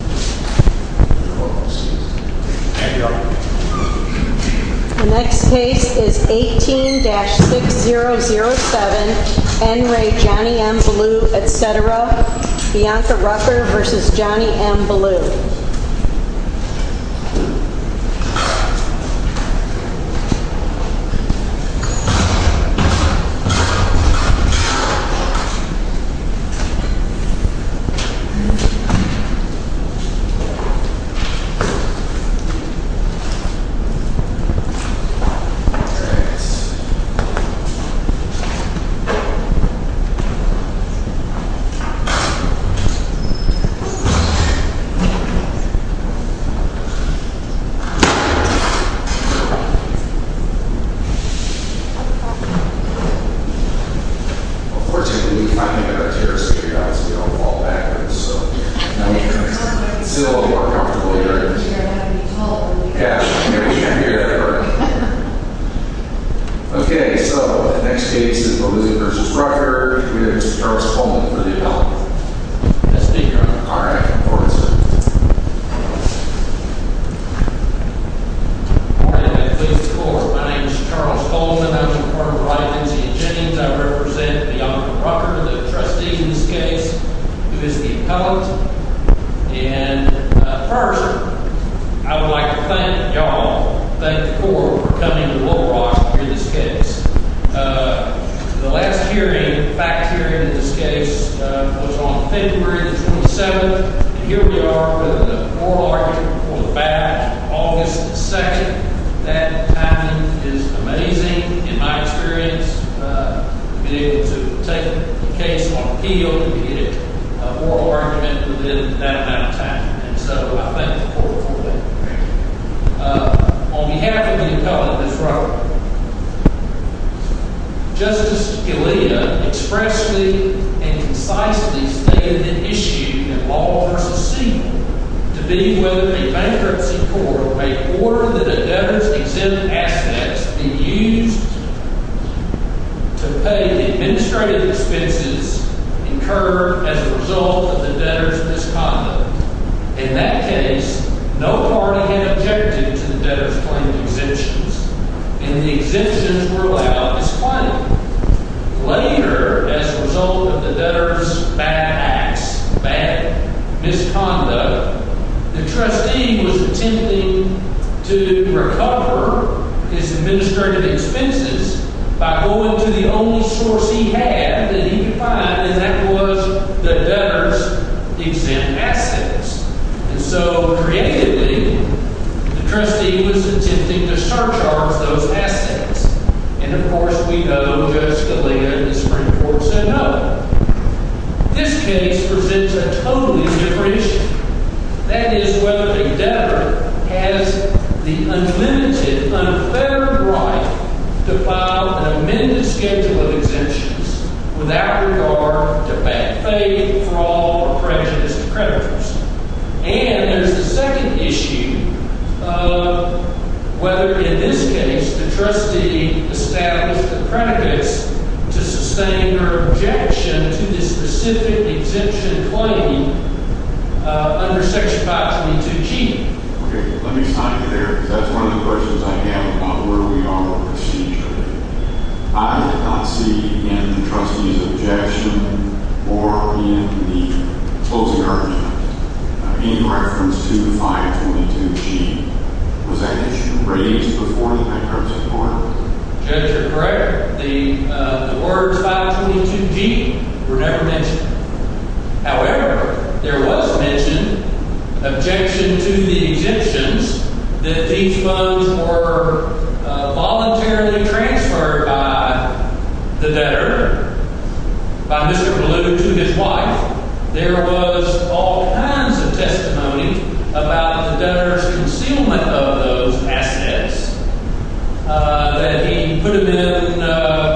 The next case is 18-6007 N. Ray Johnny M. Belew etc. Bianca Rucker v. Johnny M. Belew Next case is Belew v. Rucker. Charles Coleman v. Appellant First, I would like to thank you all for coming to Little Rock to hear this case. The last hearing, the fact hearing of this case, was on February 27th. And here we are with an oral argument for the fact on August 2nd. That timing is amazing in my experience. I've been able to take the case on appeal and get an oral argument within that amount of time. And so I thank the court for that. On behalf of the appellant of Little Rock, Justice Scalia expressly and concisely stated the issue in Law v. Siegel to be with the bankruptcy court before the debtor's exempt assets be used to pay the administrative expenses incurred as a result of the debtor's misconduct. In that case, no party had objected to the debtor's claimed exemptions. And the exemptions were allowed as claimed. Later, as a result of the debtor's bad acts, bad misconduct, the trustee was attempting to recover his administrative expenses by going to the only source he had that he could find, and that was the debtor's exempt assets. And so, creatively, the trustee was attempting to surcharge those assets. And, of course, we know, Justice Scalia and the Supreme Court said no. This case presents a totally different issue. That is whether the debtor has the unlimited, unfair right to file an amended schedule of exemptions without regard to bad faith for all the prejudice of creditors. And there's a second issue of whether, in this case, the trustee established the predicates to sustain her objection to this specific exemption claim under Section 522G. Okay, let me stop you there because that's one of the questions I have about where we are with the procedure. I did not see in the trustee's objection or in the closing argument any reference to 522G. Was that issue raised before the bankruptcy court? Judge, you're correct. The words 522G were never mentioned. However, there was mention, objection to the exemptions, that these funds were voluntarily transferred by the debtor, by Mr. Ballew, to his wife. There was all kinds of testimony about the debtor's concealment of those assets that he put them in,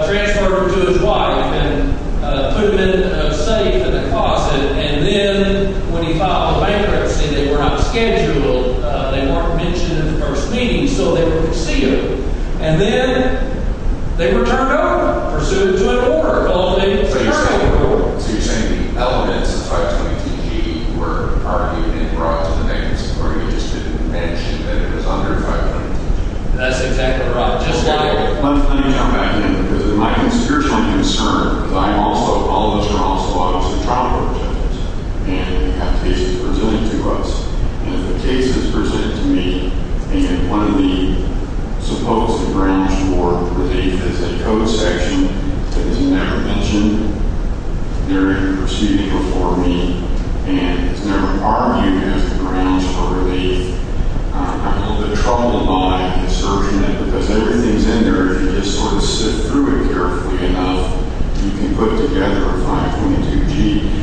transferred them to his wife and put them in a safe in the closet. And then when he filed the bankruptcy, they were not scheduled. They weren't mentioned in the first meeting, so they were concealed. And then they were turned over, pursued to an order. So you're saying the elements of 522G were argued and brought to the bankruptcy court, and you just didn't mention that it was under 522G? That's exactly right. Just like – Let me jump back in because of my conspiratorial concern because I'm also – all of us are also autopsy and trial court judges and have cases pertaining to us. And if the case is presented to me and one of the supposed branch for relief is a code section that is never mentioned during the proceeding before me and is never argued as the grounds for relief, I'm a little bit troubled by the assertion that because everything's in there, if you just sort of sit through it carefully enough, you can put together a 522G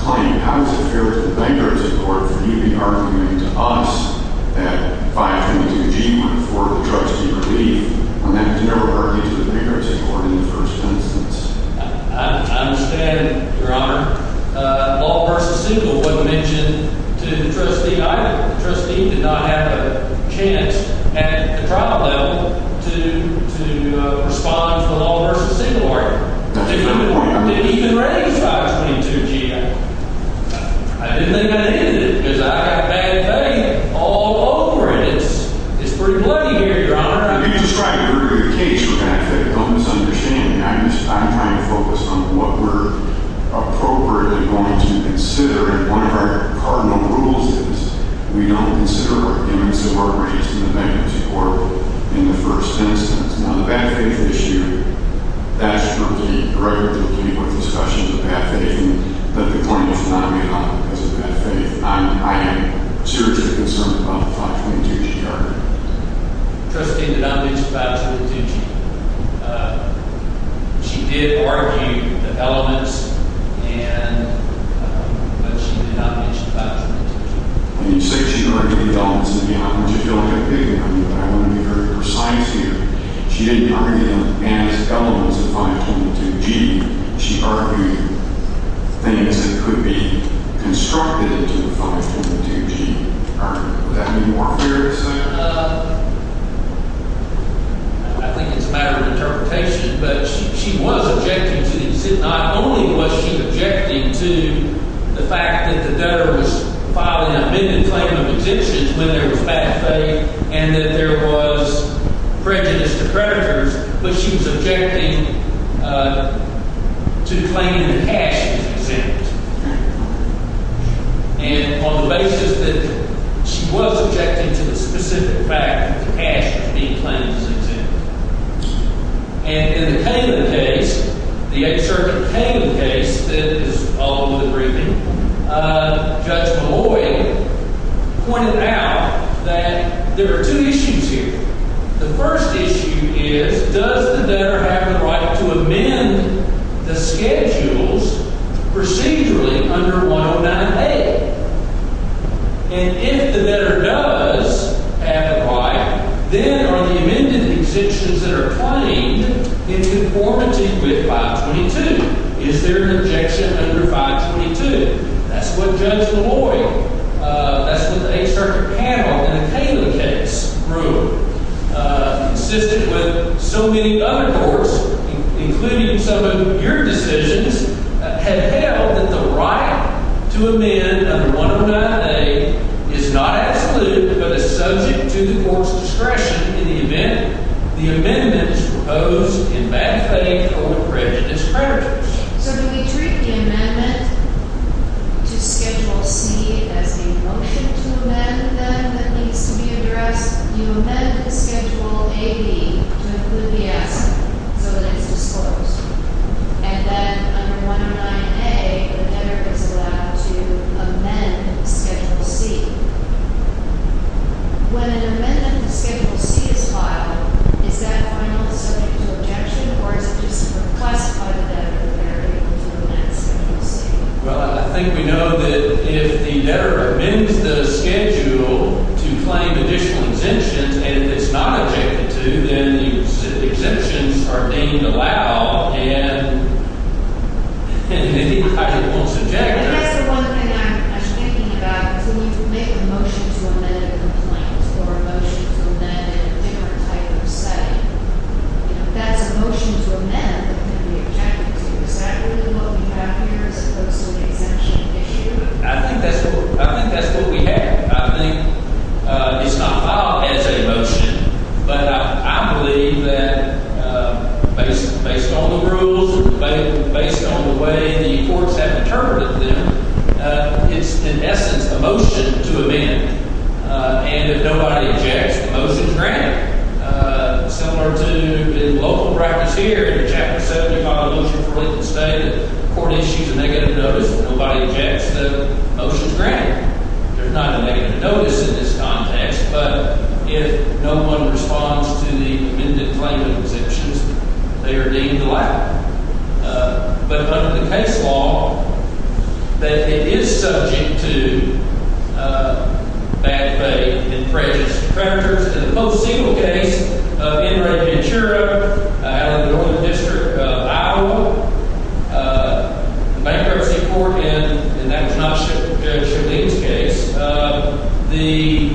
claim. How does it fare with the bankruptcy court for you to be arguing to us that 522G was for the trustee relief when that was never argued to the bankruptcy court in the first instance? I understand, Your Honor. Law versus single wasn't mentioned to the trustee either. The trustee did not have a chance at the trial level to respond to the law versus single order. That's a good point, Your Honor. They didn't even raise 522G. I didn't think that it did because I have bad faith all over it. It's pretty plain here, Your Honor. You're just trying to ridicule the case for bad faith and misunderstanding. I'm trying to focus on what we're appropriately going to consider. And one of our cardinal rules is we don't consider arguments that were raised in the bankruptcy court in the first instance. Now, the bad faith issue, that's for the record, I'm not in favor of any more discussion of the bad faith. But the point is not me, Your Honor, because of bad faith. I am seriously concerned about the 522G argument. The trustee did not mention 522G. She did argue the elements, but she did not mention 522G. When you say she argued the elements in the argument, you don't have a big argument, but I want to be very precise here. She didn't argue the elements of 522G. She argued things that could be constructed into the 522G argument. Would that be more fair to say? I think it's a matter of interpretation, but she was objecting to the exit. Not only was she objecting to the fact that the debtor was filing an amended claim of exemptions when there was bad faith and that there was prejudice to creditors, but she was objecting to claiming the cash as exempt. And on the basis that she was objecting to the specific fact that the cash was being claimed as exempt. And in the Cayman case, the 8th Circuit Cayman case, that is following the briefing, Judge Malloy pointed out that there are two issues here. The first issue is, does the debtor have the right to amend the schedules procedurally under 109A? And if the debtor does have the right, then are the amended exemptions that are claimed in conformity with 522? Is there an objection under 522? That's what Judge Malloy, that's what the 8th Circuit panel in the Cayman case ruled. Consistent with so many other courts, including some of your decisions, have held that the right to amend under 109A is not absolute but is subject to the court's discretion in the event the amendment is proposed in bad faith or prejudice purgatory. So do we treat the amendment to Schedule C as a motion to amend then that needs to be addressed? You amend Schedule AB to include the asset so that it's disclosed. And then under 109A, the debtor is allowed to amend Schedule C. When an amendment to Schedule C is filed, is that final subject to objection or is it just classified as an amendment to amend Schedule C? Well, I think we know that if the debtor amends the schedule to claim additional exemptions, and if it's not objected to, then the exemptions are deemed allowed, and then he probably won't subject. That's the one thing I'm thinking about, is when you make a motion to amend a complaint or a motion to amend in a different type of setting, that's a motion to amend that can be objected to. Is that really what we have here as opposed to the exemption issue? I think that's what we have. I think it's not filed as a motion, but I believe that based on the rules and based on the way the courts have interpreted them, it's, in essence, a motion to amend. And if nobody objects, the motion is granted. Similar to the local practice here in Chapter 75 of the Motion for Lincoln State, the court issues a negative notice when nobody objects, the motion is granted. There's not a negative notice in this context, but if no one responds to the amended claim of exemptions, they are deemed allowed. But under the case law, that it is subject to bad faith and prejudice to predators. In the post-sequel case of Enrique Ventura, out of the Northern District of Iowa, bankruptcy court, and that was not Judge Shuleen's case, the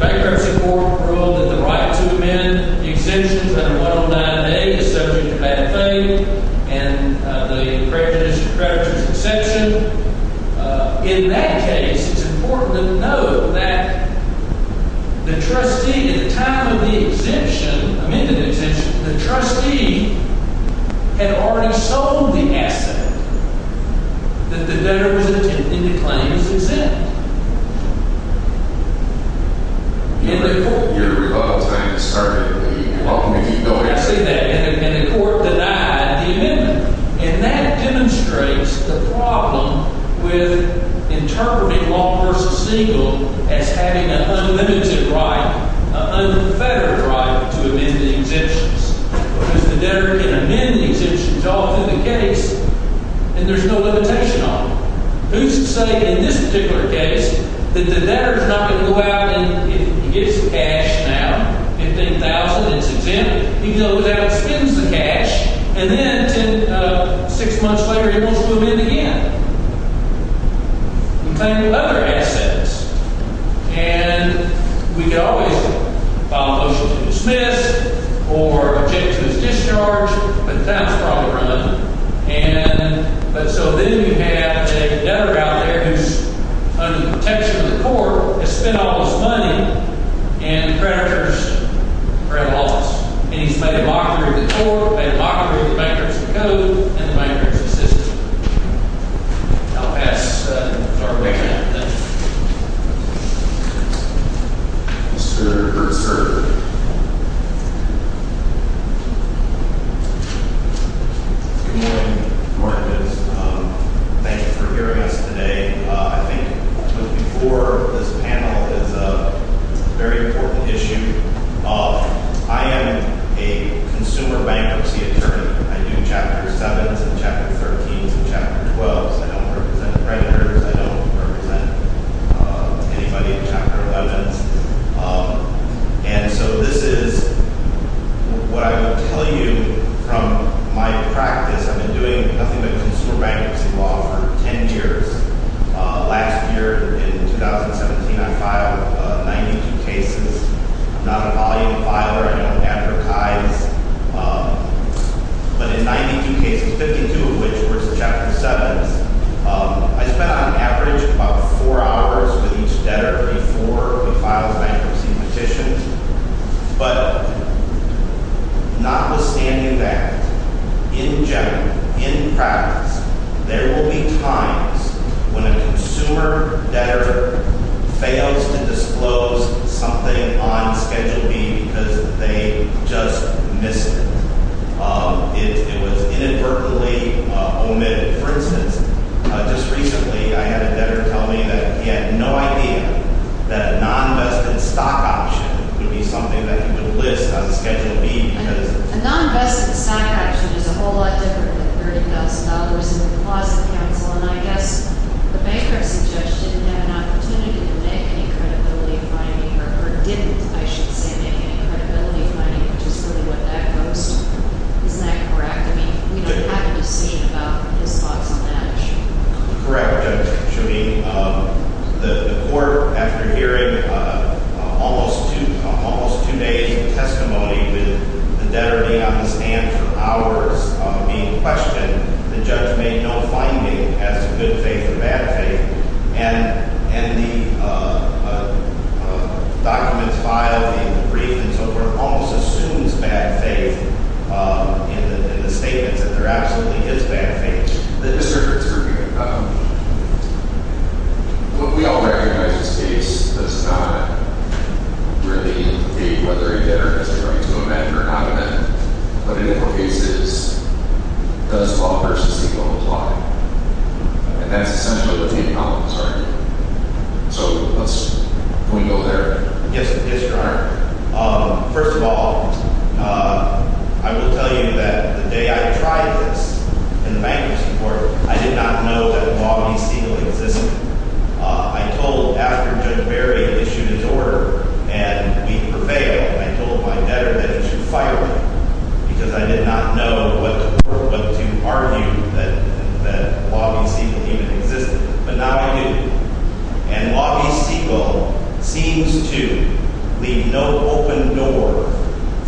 bankruptcy court ruled that the right to amend exemptions under 109A is subject to bad faith and the prejudice to predators exception. In that case, it's important to note that the trustee, at the time of the exemption, amended exemption, the trustee had already sold the asset that the donor was intending to claim as exempt in the court. I see that, and the court denied the amendment. And that demonstrates the problem with interpreting Law v. Siegel as having an unlimited right, an unfettered right to amend the exemptions. Because the debtor can amend the exemptions all through the case, and there's no limitation on them. Who's to say in this particular case that the debtor's not going to go out and he gets the cash now, $15,000, and it's exempt? He goes out and spends the cash, and then six months later he wants to move in again and claim other assets. And we could always file a motion to dismiss or object to his discharge, but that's probably run. And so then you have a debtor out there who's under the protection of the court, has spent all his money, and the creditors are at a loss. And he's made a mockery of the court, made a mockery of the bankruptcy code, and the bankruptcy system. I'll pass the floor away to him. Thank you. Mr. Gertzer. Good morning, Martins. Thank you for hearing us today. I think before this panel is a very important issue. I am a consumer bankruptcy attorney. I do Chapter 7s and Chapter 13s and Chapter 12s. I don't represent creditors. I don't represent anybody in Chapter 11s. And so this is what I will tell you from my practice. I've been doing nothing but consumer bankruptcy law for 10 years. Last year, in 2017, I filed 92 cases. I'm not a volume filer. I don't advertise. But in 92 cases, 52 of which were Chapter 7s, I spent on average about four hours with each debtor before we filed bankruptcy petitions. But notwithstanding that, in general, in practice, there will be times when a consumer debtor fails to disclose something on Schedule B because they just missed it. It was inadvertently omitted. For instance, just recently I had a debtor tell me that he had no idea that a non-investment stock option would be something that he would list on Schedule B. A non-investment stock option is a whole lot different than $30,000 in the closet council. And I guess the bankruptcy judge didn't have an opportunity to make any credibility finding or didn't, I should say, make any credibility finding, which is really what that goes to. Isn't that correct? I mean, we don't have a decision about his thoughts on that issue. Correct, Judge. The court, after hearing almost two days of testimony with the debtor being on the stand for hours being questioned, the judge made no finding as to good faith or bad faith. And the documents filed, the brief, and so forth, almost assumes bad faith in the statements that there absolutely is bad faith. Mr. Fitzgerald, we all recognize this case does not really indicate whether a debtor has a right to amend or not amend. But in more cases, does law versus legal apply? And that's essentially what the eight columns are. So let's go there. Yes, Your Honor. First of all, I will tell you that the day I tried this in the bankruptcy court, I did not know that law v. legal existed. I told after Judge Berry issued his order and we prevailed, I told my debtor that it should fire me because I did not know what to argue that law v. legal even existed. But now I do. And law v. legal seems to leave no open door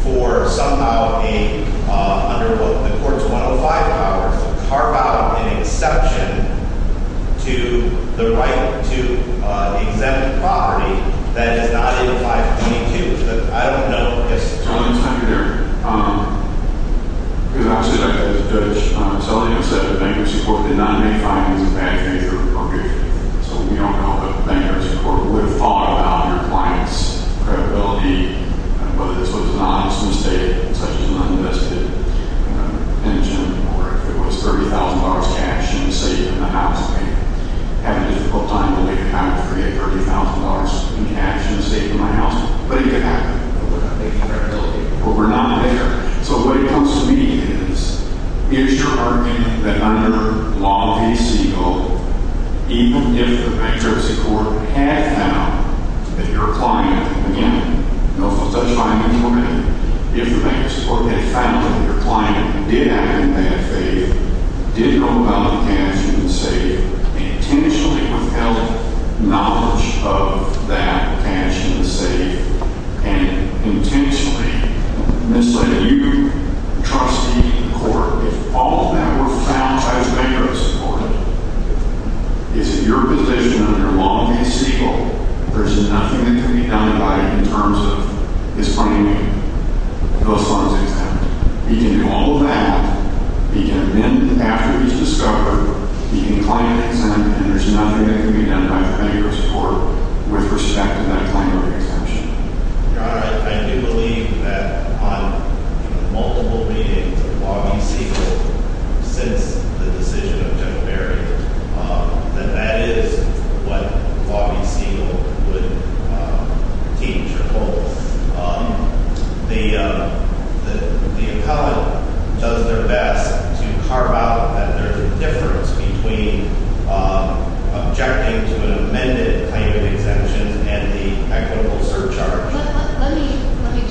for somehow a, under what the court's 105 powers, carve out an exception to the right to exempt property that is not in 522. But I don't know. Yes, sir. Mr. Sullivan's under there. Because obviously, like Judge Sullivan said, the bankruptcy court did not make findings of bad faith or appropriation. So we don't know if the bankruptcy court would have thought about compliance, credibility, whether this was an honest mistake, such as an uninvested pension, or if it was $30,000 cash in the safe in the house. I mean, having a difficult time to leave the house to create $30,000 in cash in the safe in my house. But it could happen. But we're not making credibility. But we're not there. So what it comes to me is, is your argument that under law v. legal, even if the bankruptcy court had found that your client, again, no such findings were made, if the bankruptcy court had found that your client did act in bad faith, did know about the cash in the safe, intentionally withheld knowledge of that cash in the safe, and intentionally misled you, the trustee, the court, if all of that were found by the bankruptcy court, is that your position under law v. legal, there's nothing that can be done about it in terms of his finding those funds examined. He can do all of that. He can admit after he's discovered. He can claim an exemption. And there's nothing that can be done about it for bankruptcy court with respect to that claim of exemption. Your Honor, I do believe that on multiple meetings of law v. legal since the decision of Jim Berry, that that is what law v. legal would teach or hold. The appellant does their best to carve out that there's a difference between objecting to an amended claim of exemption and the equitable surcharge. Let me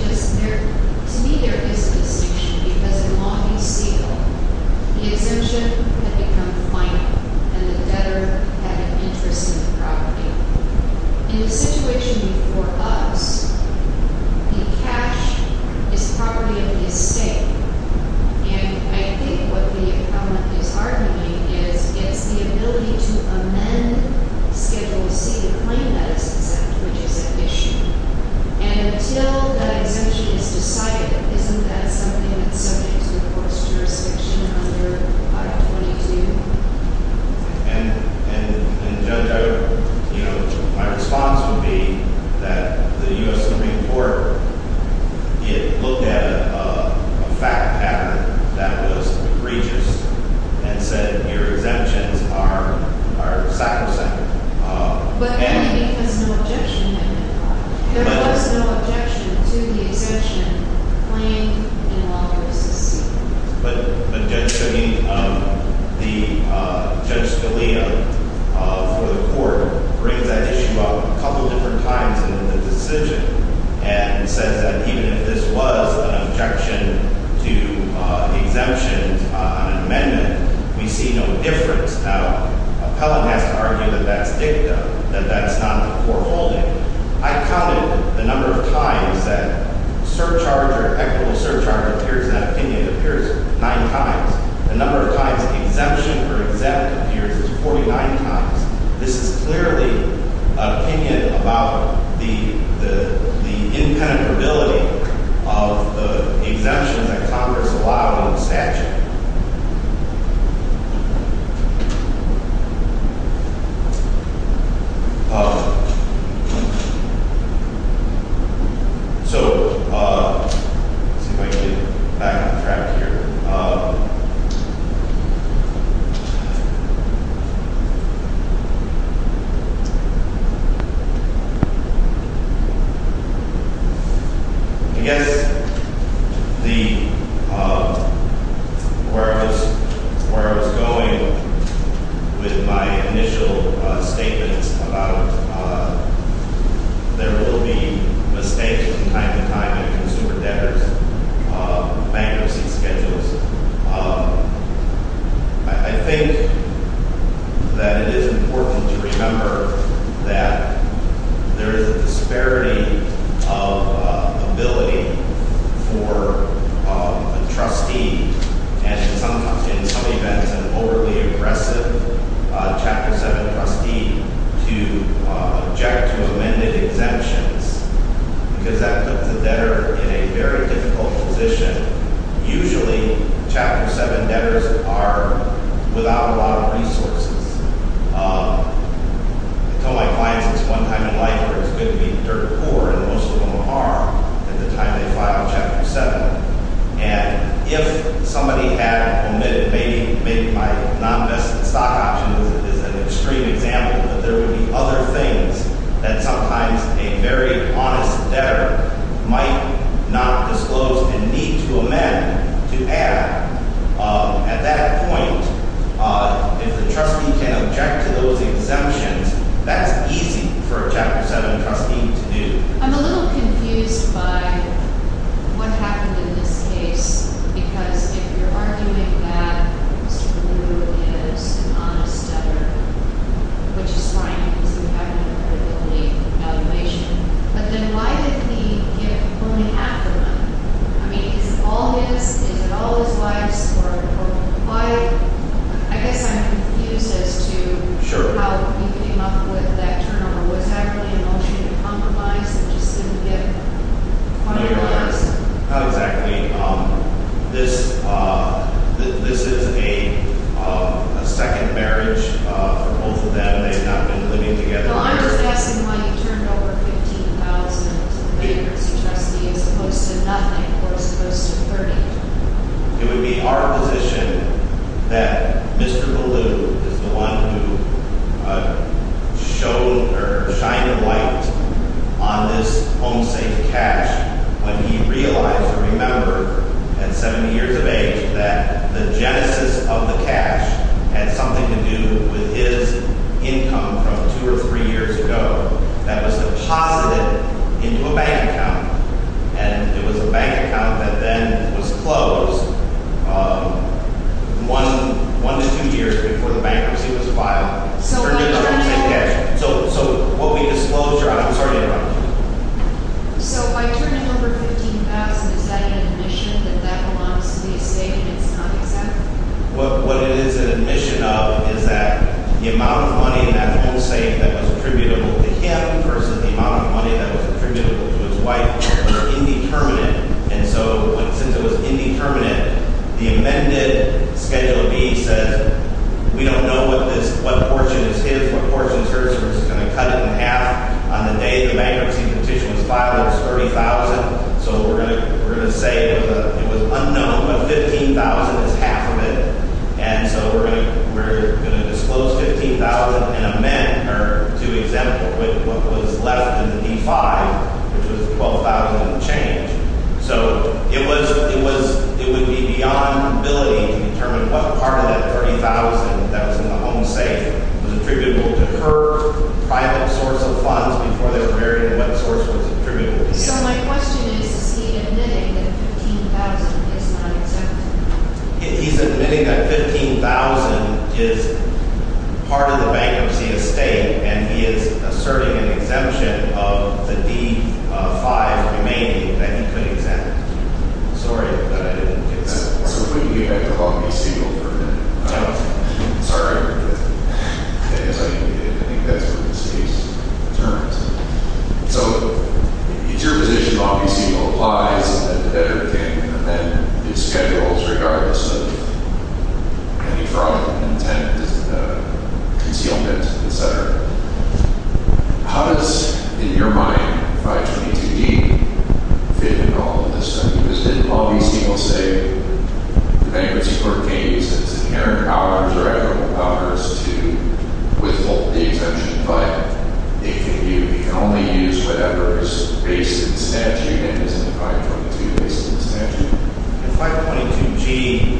just, to me there is a distinction because in law v. legal, the exemption had become final and the debtor had an interest in the property. In a situation for us, the cash is property of the estate. And I think what the appellant is arguing is it's the ability to amend Schedule C to claim that it's exempt, which is eviction. And until that exemption is decided, isn't that something that's subject to the court's jurisdiction under 522? And Judge, my response would be that the U.S. Supreme Court looked at a fact pattern that was egregious and said your exemptions are sacrosanct. But then he has no objection to that. There was no objection to the exemption claimed in law v. legal. But Judge Scalia for the court brings that issue up a couple different times in the decision and says that even if this was an objection to exemptions on an amendment, we see no difference. Now, the appellant has to argue that that's dicta, that that's not the foreholding. I counted the number of times that surcharge or equitable surcharge appears in that opinion. It appears nine times. The number of times exemption or exempt appears is 49 times. This is clearly an opinion about the impenetrability of the exemptions that Congress allowed in the statute. So let's see if I can get back on track here. I guess the, where I was going with my initial statements about there will be mistakes from time to time in consumer debtors bankruptcy schedules. I think that it is important to remember that there is a disparity of ability for a trustee and in some events an overly aggressive Chapter 7 trustee to object to amended exemptions. Because that puts a debtor in a very difficult position. Usually, Chapter 7 debtors are without a lot of resources. I told my clients this one time in life where it was good to be dirt poor and most of them are at the time they file Chapter 7. And if somebody had omitted, maybe my non-investment stock option is an extreme example, but there would be other things that sometimes a very honest debtor might not disclose and need to amend to add. At that point, if the trustee can object to those exemptions, that's easy for a Chapter 7 trustee to do. I'm a little confused by what happened in this case. Because if you're arguing that Mr. Blue is an honest debtor, which is fine because you haven't heard the complete evaluation. But then why did he give only half the money? I mean, is it all his? Is it all his wife's? I guess I'm confused as to how you came up with that turnover. Was that really an ocean of compromise that just didn't get finalized? Not exactly. This is a second marriage for both of them. They have not been living together. I'm just asking why you turned over $15,000 to the bankruptcy trustee as opposed to nothing, or as opposed to $30,000. It would be our position that Mr. Blue is the one who shined a light on this home-safe cash when he realized and remembered at 70 years of age that the genesis of the cash had something to do with his income from two or three years ago that was deposited into a bank account. And it was a bank account that then was closed one to two years before the bankruptcy was filed. So what we disclosed your honor, I'm sorry to interrupt you. So by turning over $15,000, is that an admission that that belongs to the estate and it's not exact? What it is an admission of is that the amount of money in that home-safe that was attributable to him versus the amount of money that was attributable to his wife were indeterminate. And so since it was indeterminate, the amended Schedule B says we don't know what portion is his, what portion is hers, so we're just going to cut it in half. On the day the bankruptcy petition was filed, it was $30,000, so we're going to say it was unknown, but $15,000 is half of it. And so we're going to disclose $15,000 and amend her to exempt her with what was left in the D-5, which was $12,000 and change. So it would be beyond the ability to determine what part of that $30,000 that was in the home-safe was attributable to her private source of funds before they were married and what source was attributable to his. So my question is, is he admitting that $15,000 is not exempt? I'm sorry, but I didn't get that part. So we're going to get back to Law B. Siegel for a minute. I'm sorry. I think that's what this case determines. So it's your position Law B. Siegel applies the better thing, and then it schedules regardless of any fraud, intent, concealment, et cetera. How does, in your mind, 522G fit in all of this? Because didn't Law B. Siegel say the bankruptcy court can't use its inherent powers or equitable powers to withhold the exemption, but it can only use whatever is based in the statute and isn't 522 based in the statute? In 522G,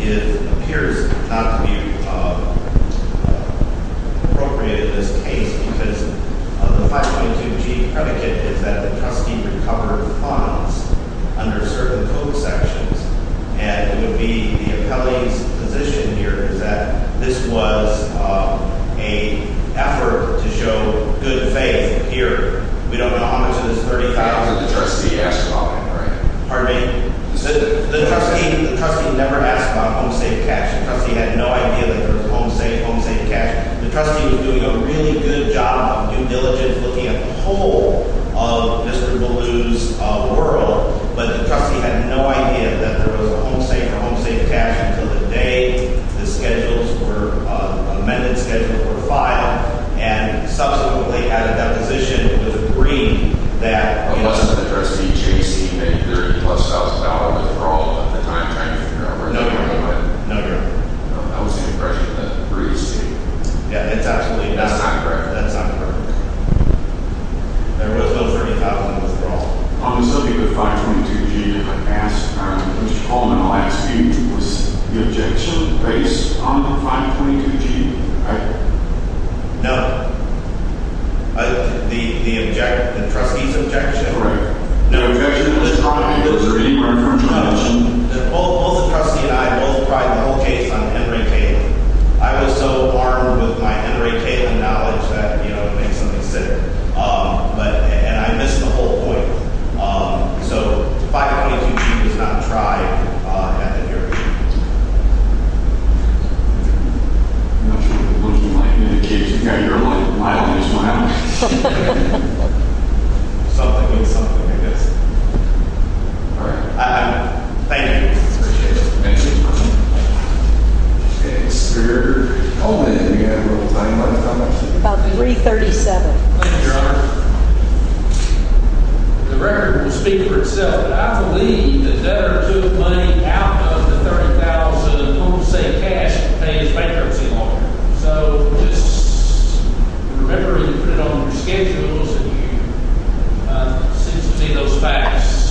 it appears not to be appropriate in this case because the 522G predicate is that the trustee recovered funds under certain code sections. And it would be the appellee's position here is that this was an effort to show good faith here. We don't know how much of this $30,000. The trustee asked about it, right? Pardon me? The trustee never asked about home safe cash. The trustee had no idea that there was home safe, home safe cash. The trustee was doing a really good job, due diligence, looking at the whole of Mr. Ballew's world. But the trustee had no idea that there was home safe or home safe cash until the day the schedules were – amended schedules were filed. And subsequently, had a deposition with Green that – Unless the trustee chased the $30,000 withdrawal at the time, trying to figure out where the money went. No, Your Honor. No, Your Honor. That was the impression that Green seeked. Yeah, it's absolutely – That's not correct. That's not correct. There was no $30,000 withdrawal. On the subject of the 522G, if I may ask, Mr. Ballew, my last speech was the objection based on the 522G, right? No. The – the – the trustee's objection? Correct. The objection was – Was there any reference to – No. Both the trustee and I both tried the whole case on Henry Kalin. I was so armed with my Henry Kalin knowledge that, you know, it makes me sick. But – and I missed the whole point. So, the 522G was not tried at the hearing. I'm not sure what you're looking like. You're the kid. Yeah, you're like mildly smiling. Something means something, I guess. All right. Thank you. Appreciate it. Thank you, Your Honor. Thanks. We're calling it in again real time. What time is it? About 337. Thank you, Your Honor. The record will speak for itself. I believe that a debtor took money out of the $30,000 – I want to say cash – to pay his bankruptcy loan. So, just remember you put it on your schedules and you – it seems to be those facts.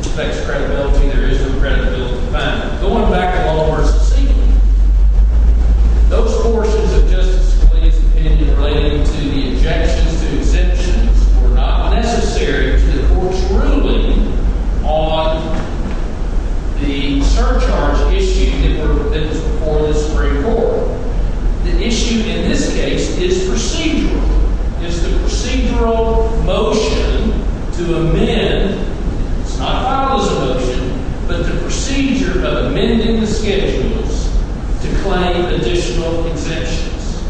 It affects credibility. There is no credibility to find. Going back a little more succinctly, those portions of Justice Scalia's opinion relating to the objections to exemptions were not necessary to the court's ruling on the surcharge issue that was before this Supreme Court. The issue in this case is procedural. It's the procedural motion to amend – it's not filed as a motion – but the procedure of amending the schedules to claim additional exemptions.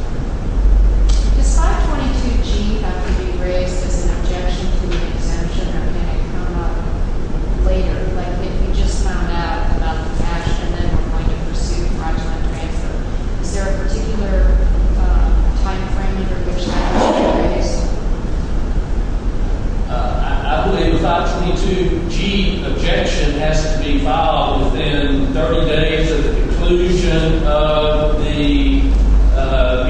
Does 522G have to be raised as an objection to the exemption or can it come up later? Like, if we just found out about the cash and then we're going to pursue fraudulent transfer, is there a particular timeframe in which that has to be raised? I believe 522G objection has to be filed within 30 days of the conclusion of the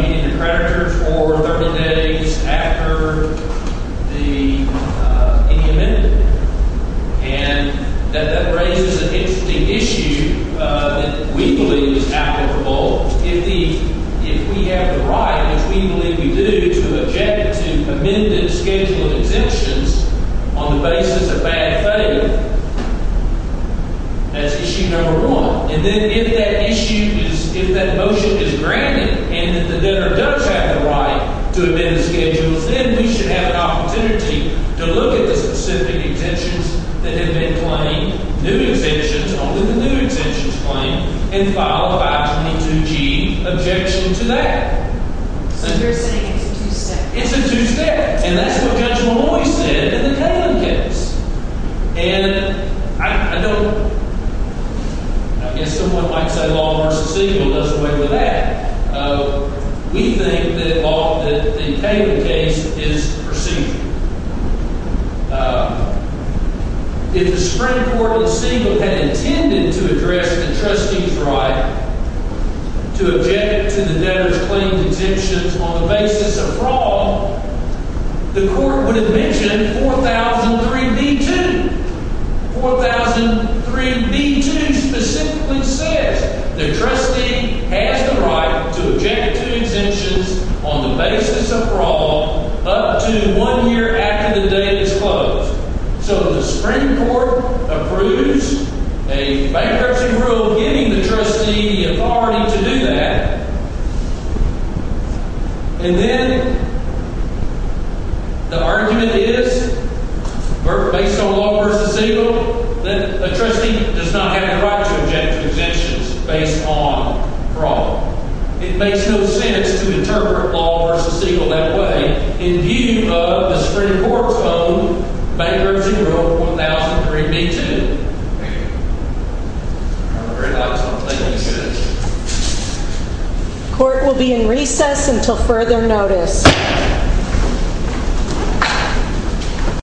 meeting of the creditors or 30 days after the – any amendment. And that raises an interesting issue that we believe is applicable. If the – if we have the right, which we believe we do, to object to amended schedule of exemptions on the basis of bad faith, that's issue number one. And then if that issue is – if that motion is granted and that the debtor does have the right to amend the schedules, then we should have an opportunity to look at the specific exemptions that have been claimed, new exemptions, only the new exemptions claimed, and file a 522G objection to that. So you're saying it's a two-step? It's a two-step. And that's what Judge Malloy said in the Kaling case. And I don't – I guess someone might say Law v. Siegel does away with that. We think that the Kaling case is procedural. If the Supreme Court of Siegel had intended to address the trustee's right to object to the debtor's claimed exemptions on the basis of fraud, the court would have mentioned 4003B2. And 4003B2 specifically says the trustee has the right to object to exemptions on the basis of fraud up to one year after the debt is closed. So the Supreme Court approves a bankruptcy rule giving the trustee the authority to do that. And then the argument is, based on Law v. Siegel, that a trustee does not have the right to object to exemptions based on fraud. It makes no sense to interpret Law v. Siegel that way in view of the Supreme Court's own bankruptcy rule, 4003B2. Thank you. Court will be in recess until further notice.